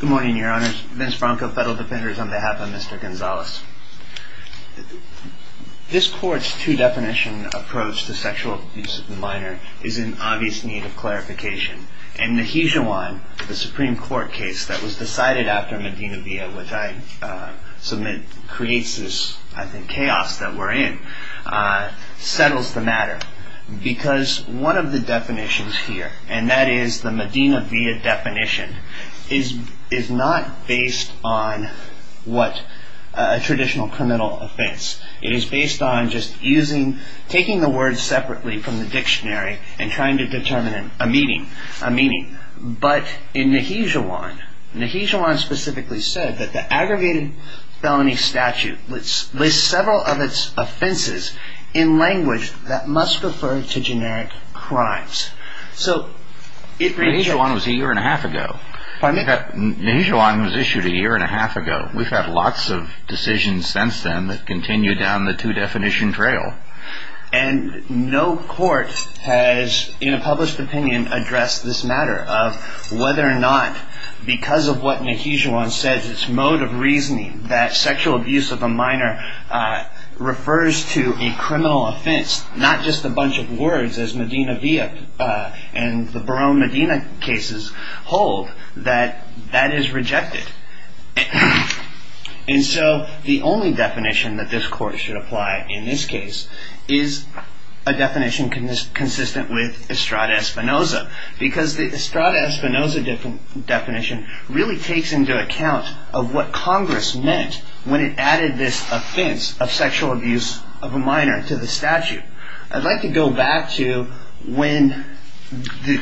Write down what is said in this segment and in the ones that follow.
Good morning, Your Honors. Vince Bronco, Federal Defenders, on behalf of Mr. Gonzalez. This Court's two-definition approach to sexual abuse of the minor is in obvious need of clarification. And the Hijawine, the Supreme Court case that was decided after Medina Villa, which I submit creates this, I think, chaos that we're in, settles the matter. Because one of the definitions here, and that is the Medina Villa definition, is not based on what a traditional criminal offense. It is based on just using, taking the words separately from the dictionary and trying to determine a meaning. But in the Hijawine, the Hijawine specifically said that the aggregated felony statute lists several of its offenses in language that must refer to generic crimes. The Hijawine was issued a year and a half ago. We've had lots of decisions since then that continue down the two-definition trail. And no court has, in a published opinion, addressed this matter of whether or not, because of what the Hijawine says, its mode of reasoning, that sexual abuse of a minor refers to a criminal offense, not just a bunch of words as Medina Villa and the Barone Medina cases hold, that that is rejected. And so the only definition that this court should apply in this case is a definition consistent with Estrada Espinoza. Because the Estrada Espinoza definition really takes into account of what Congress meant when it added this offense of sexual abuse of a minor to the statute. I'd like to go back to when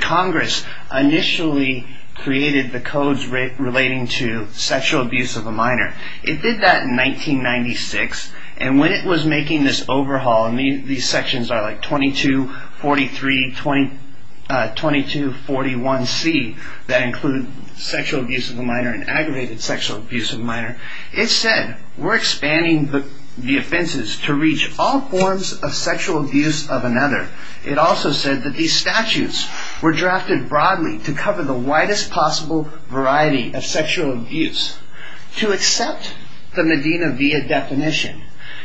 Congress initially created the codes relating to sexual abuse of a minor. It did that in 1996, and when it was making this overhaul, and these sections are like 2243, 2241C, that include sexual abuse of a minor and aggravated sexual abuse of a minor, it said, we're expanding the offenses to reach all forms of sexual abuse of another. It also said that these statutes were drafted broadly to cover the widest possible variety of sexual abuse. To accept the Medina Villa definition,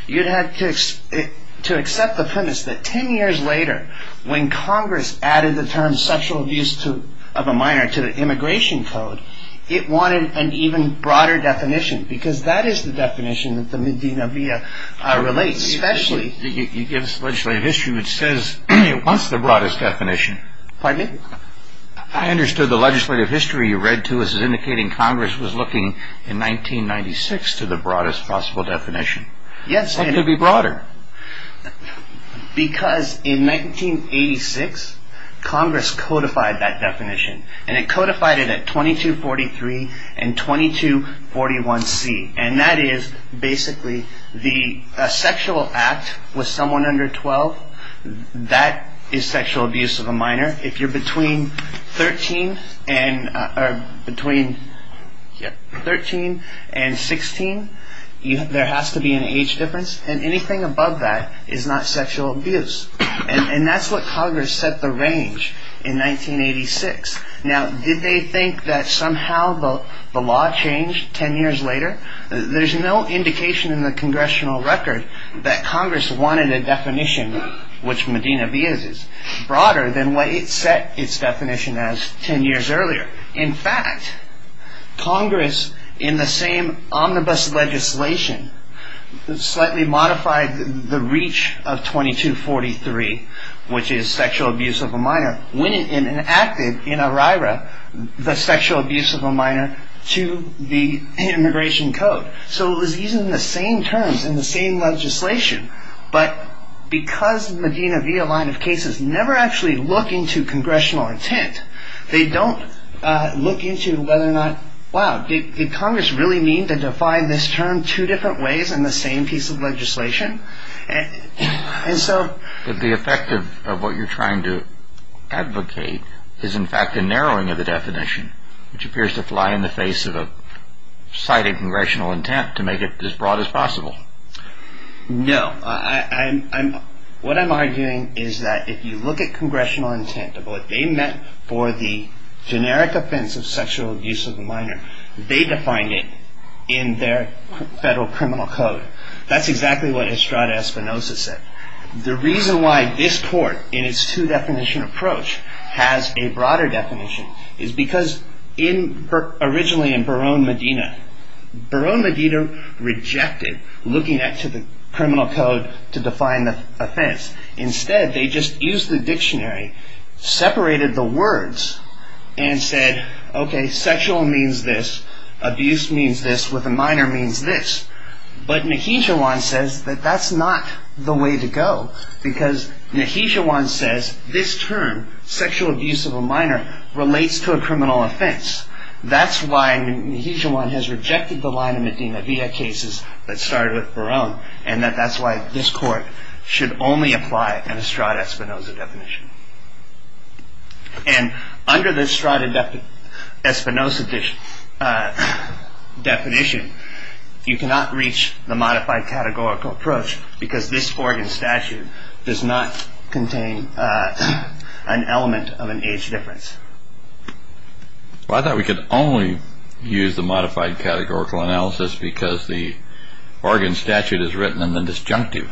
you'd have to accept the premise that ten years later, when Congress added the term sexual abuse of a minor to the immigration code, it wanted an even broader definition, because that is the definition that the Medina Villa relates. You give us legislative history which says it wants the broadest definition. Pardon me? I understood the legislative history you read to us as indicating Congress was looking in 1996 to the broadest possible definition. Yes. What could be broader? Because in 1986, Congress codified that definition, and it codified it at 2243 and 2241C, and that is basically the sexual act with someone under 12, that is sexual abuse of a minor. If you're between 13 and 16, there has to be an age difference, and anything above that is not sexual abuse. And that's what Congress set the range in 1986. Now, did they think that somehow the law changed ten years later? There's no indication in the congressional record that Congress wanted a definition which Medina Villa is broader than what it set its definition as ten years earlier. In fact, Congress, in the same omnibus legislation, slightly modified the reach of 2243, which is sexual abuse of a minor, when it enacted in OIRA the sexual abuse of a minor to the immigration code. So it was using the same terms and the same legislation, but because Medina Villa line of cases never actually look into congressional intent, they don't look into whether or not, wow, did Congress really mean to define this term two different ways in the same piece of legislation? And so... But the effect of what you're trying to advocate is in fact a narrowing of the definition, which appears to fly in the face of a cited congressional intent to make it as broad as possible. No. What I'm arguing is that if you look at congressional intent of what they meant for the generic offense of sexual abuse of a minor, they defined it in their federal criminal code. That's exactly what Estrada Espinosa said. The reason why this court, in its two-definition approach, has a broader definition is because in... ...rejected looking at the criminal code to define the offense. Instead, they just used the dictionary, separated the words, and said, okay, sexual means this, abuse means this, with a minor means this. But Neheshawan says that that's not the way to go. Because Neheshawan says this term, sexual abuse of a minor, relates to a criminal offense. That's why Neheshawan has rejected the line of Medina via cases that started with Barone, and that that's why this court should only apply an Estrada Espinosa definition. And under the Estrada Espinosa definition, you cannot reach the modified categorical approach, because this Oregon statute does not contain an element of an age difference. Well, I thought we could only use the modified categorical analysis because the Oregon statute is written in the disjunctive.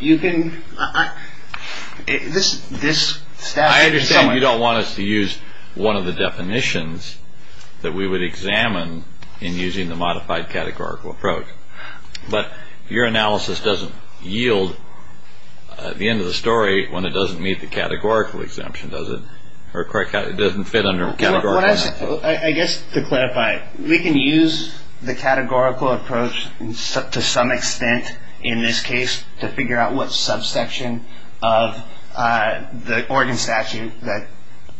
You can... I understand you don't want us to use one of the definitions that we would examine in using the modified categorical approach. But your analysis doesn't yield, at the end of the story, when it doesn't meet the categorical exemption, does it? Or it doesn't fit under categorical? I guess to clarify, we can use the categorical approach to some extent in this case to figure out what subsection of the Oregon statute that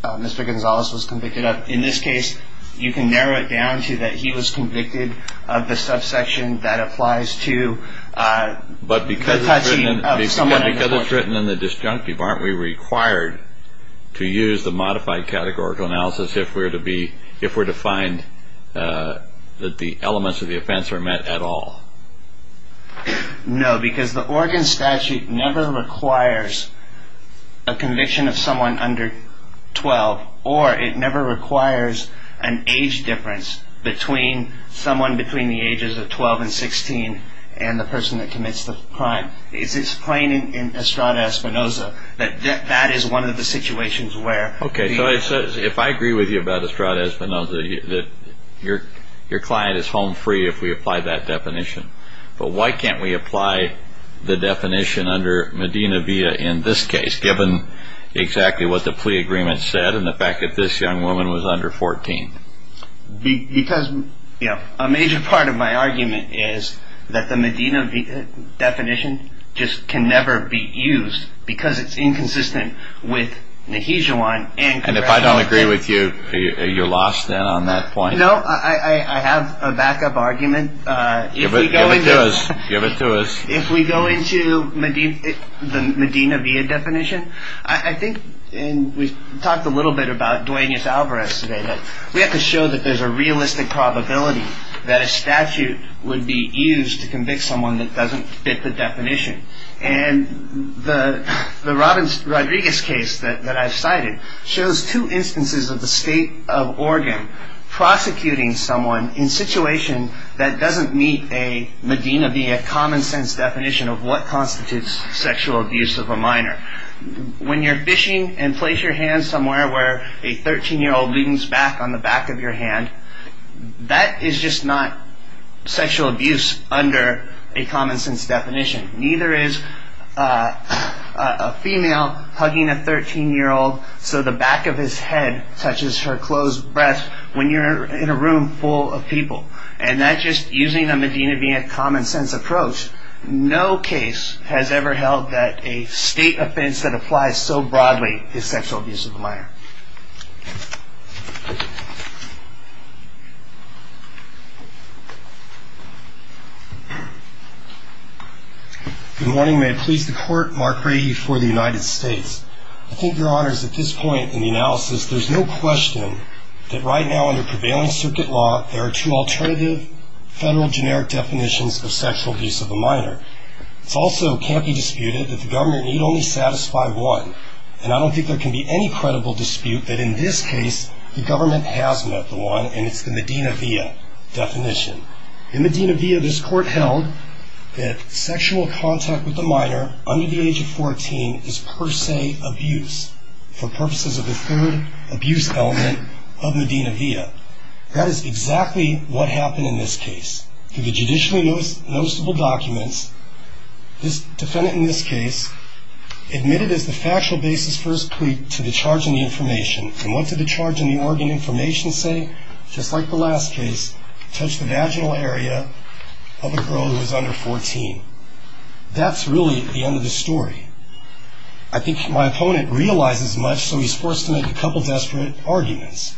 Mr. Gonzalez was convicted of. In this case, you can narrow it down to that he was convicted of the subsection that applies to... But because it's written in the disjunctive, aren't we required to use the modified categorical analysis if we're to find that the elements of the offense are met at all? No, because the Oregon statute never requires a conviction of someone under 12, or it never requires an age difference between someone between the ages of 12 and 16 and the person that commits the crime. It's plain in Estrada-Espinoza that that is one of the situations where... Okay, so if I agree with you about Estrada-Espinoza, your client is home free if we apply that definition. But why can't we apply the definition under Medina v.a. in this case, given exactly what the plea agreement said and the fact that this young woman was under 14? Because, you know, a major part of my argument is that the Medina v.a. definition just can never be used because it's inconsistent with Nehijewan and... And if I don't agree with you, you're lost then on that point? No, I have a backup argument. Give it to us. If we go into the Medina v.a. definition, I think we talked a little bit about Duenas-Alvarez today, but we have to show that there's a realistic probability that a statute would be used to convict someone that doesn't fit the definition. And the Rodriguez case that I've cited shows two instances of the state of Oregon prosecuting someone in a situation that doesn't meet a Medina v.a. common-sense definition of what constitutes sexual abuse of a minor. When you're fishing and place your hand somewhere where a 13-year-old leans back on the back of your hand, that is just not sexual abuse under a common-sense definition. Neither is a female hugging a 13-year-old so the back of his head touches her closed breath when you're in a room full of people. And that's just using a Medina v.a. common-sense approach. No case has ever held that a state offense that applies so broadly is sexual abuse of a minor. Good morning. May it please the Court, Mark Brady for the United States. I think, Your Honors, at this point in the analysis, there's no question that right now under prevailing circuit law, there are two alternative federal generic definitions of sexual abuse of a minor. It also can't be disputed that the government need only satisfy one, and I don't think there can be any credible dispute that in this case, the government has met the one, and it's the Medina v.a. definition. In Medina v.a., this Court held that sexual contact with a minor under the age of 14 is per se abuse for purposes of the third abuse element of Medina v.a. That is exactly what happened in this case. Through the judicially noticeable documents, this defendant in this case admitted as the factual basis for his plea to the charge in the information, and what did the charge in the Oregon information say? Just like the last case, touched the vaginal area of a girl who was under 14. That's really the end of the story. I think my opponent realizes much, so he's forced to make a couple desperate arguments,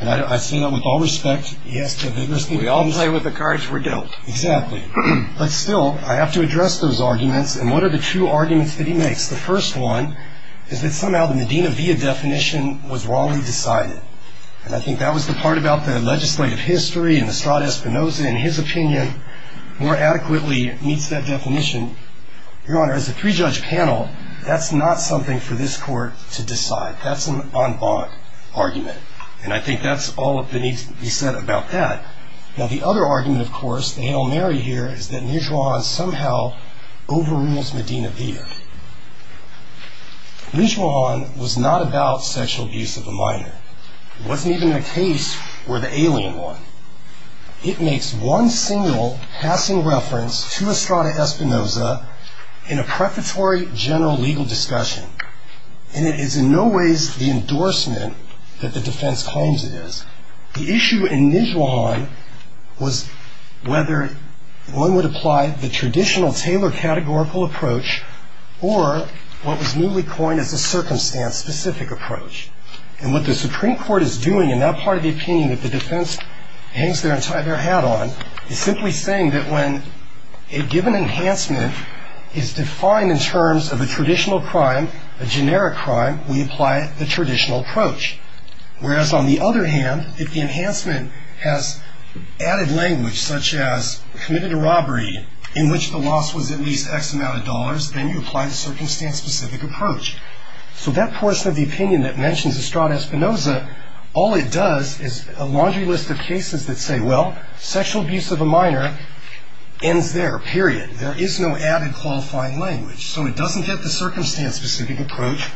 and I say that with all respect. We all play with the cards we're dealt. Exactly. But still, I have to address those arguments, and what are the two arguments that he makes? The first one is that somehow the Medina v.a. definition was wrongly decided, and I think that was the part about the legislative history and Estrada Espinosa, in his opinion, more adequately meets that definition. Your Honor, as a three-judge panel, that's not something for this Court to decide. That's an en bas argument, and I think that's all that needs to be said about that. Now, the other argument, of course, the anal mary here, is that Mujuan somehow overrules Medina v.a. Mujuan was not about sexual abuse of a minor. It wasn't even a case for the alien one. It makes one single passing reference to Estrada Espinosa in a prefatory general legal discussion, and it is in no ways the endorsement that the defense claims it is. The issue in Mujuan was whether one would apply the traditional Taylor categorical approach or what was newly coined as a circumstance-specific approach, and what the Supreme Court is doing in that part of the opinion that the defense hangs their hat on is simply saying that when a given enhancement is defined in terms of a traditional crime, a generic crime, we apply the traditional approach, whereas on the other hand, if the enhancement has added language, such as committed a robbery in which the loss was at least X amount of dollars, then you apply the circumstance-specific approach. So that portion of the opinion that mentions Estrada Espinosa, all it does is a laundry list of cases that say, well, sexual abuse of a minor ends there, period. There is no added qualifying language. So it doesn't get the circumstance-specific approach.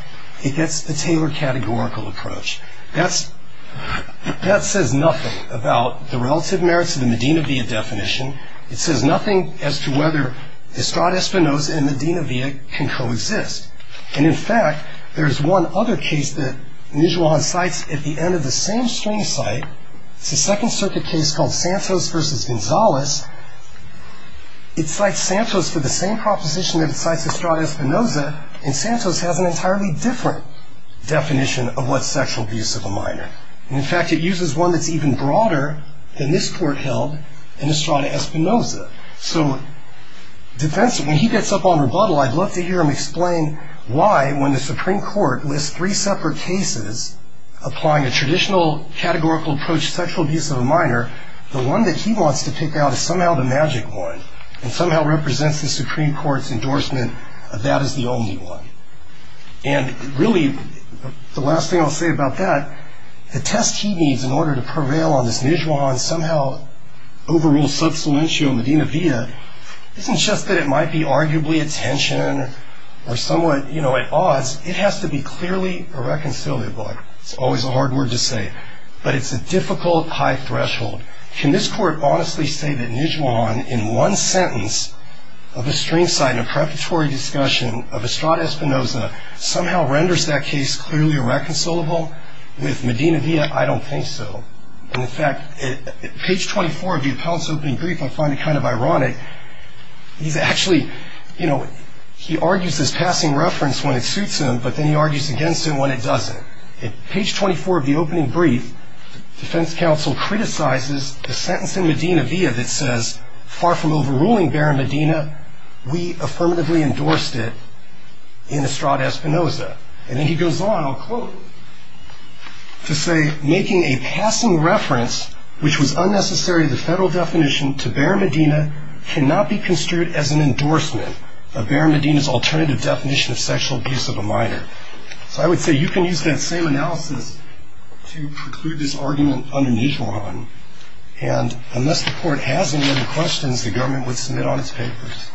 It gets the Taylor categorical approach. That says nothing about the relative merits of the Medina v.a. definition. It says nothing as to whether Estrada Espinosa and Medina v.a. can coexist. And, in fact, there is one other case that Nijuan cites at the end of the same string site. It's a Second Circuit case called Santos v. Gonzalez. It cites Santos for the same proposition that it cites Estrada Espinosa, and Santos has an entirely different definition of what sexual abuse of a minor. And, in fact, it uses one that's even broader than this court held in Estrada Espinosa. So when he gets up on rebuttal, I'd love to hear him explain why, when the Supreme Court lists three separate cases applying a traditional categorical approach to sexual abuse of a minor, the one that he wants to pick out is somehow the magic one and somehow represents the Supreme Court's endorsement of that as the only one. And, really, the last thing I'll say about that, the test he needs in order to prevail on this Nijuan somehow overruled substantial Medina v.a. isn't just that it might be arguably attention or somewhat at odds. It has to be clearly irreconcilable. It's always a hard word to say, but it's a difficult high threshold. Can this court honestly say that Nijuan, in one sentence of a string site in a preparatory discussion of Estrada Espinosa, somehow renders that case clearly irreconcilable with Medina v.a.? I don't think so. And, in fact, at page 24 of the appellant's opening brief, I find it kind of ironic. He's actually, you know, he argues this passing reference when it suits him, but then he argues against it when it doesn't. At page 24 of the opening brief, the defense counsel criticizes the sentence in Medina v.a. that it says, far from overruling Barra Medina, we affirmatively endorsed it in Estrada Espinosa. And then he goes on, I'll quote, to say, making a passing reference which was unnecessary to the federal definition to Barra Medina cannot be construed as an endorsement of Barra Medina's alternative definition of sexual abuse of a minor. So I would say you can use that same analysis to preclude this argument under Nijuan. And unless the court has any other questions, the government would submit on its papers.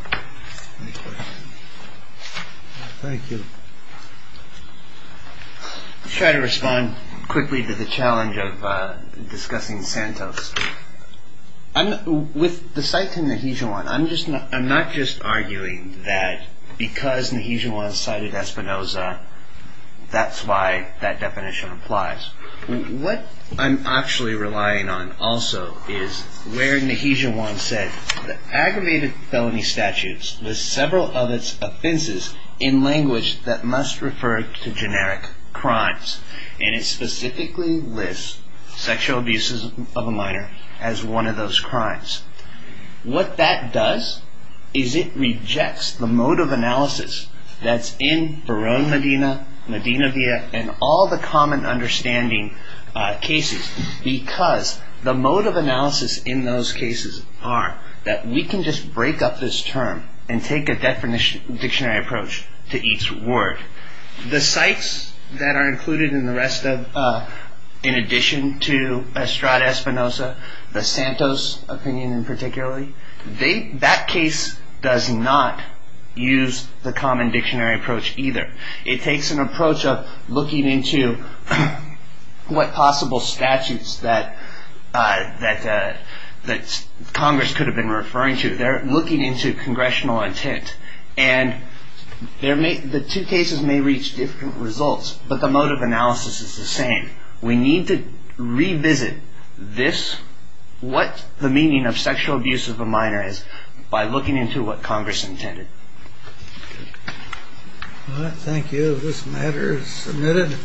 Thank you. I'll try to respond quickly to the challenge of discussing Santos. With the site in Nijuan, I'm not just arguing that because Nijuan cited Espinosa, that's why that definition applies. What I'm actually relying on also is where Nijuan said that aggravated felony statutes list several of its offenses in language that must refer to generic crimes. And it specifically lists sexual abuse of a minor as one of those crimes. What that does is it rejects the mode of analysis that's in Barron Medina, Medina v.a. and all the common understanding cases. Because the mode of analysis in those cases are that we can just break up this term and take a dictionary approach to each word. The sites that are included in the rest of, in addition to Estrada Espinosa, the Santos opinion in particularly, that case does not use the common dictionary approach either. It takes an approach of looking into what possible statutes that Congress could have been referring to. They're looking into congressional intent. And the two cases may reach different results, but the mode of analysis is the same. We need to revisit this, what the meaning of sexual abuse of a minor is, by looking into what Congress intended. Thank you. This matter is submitted.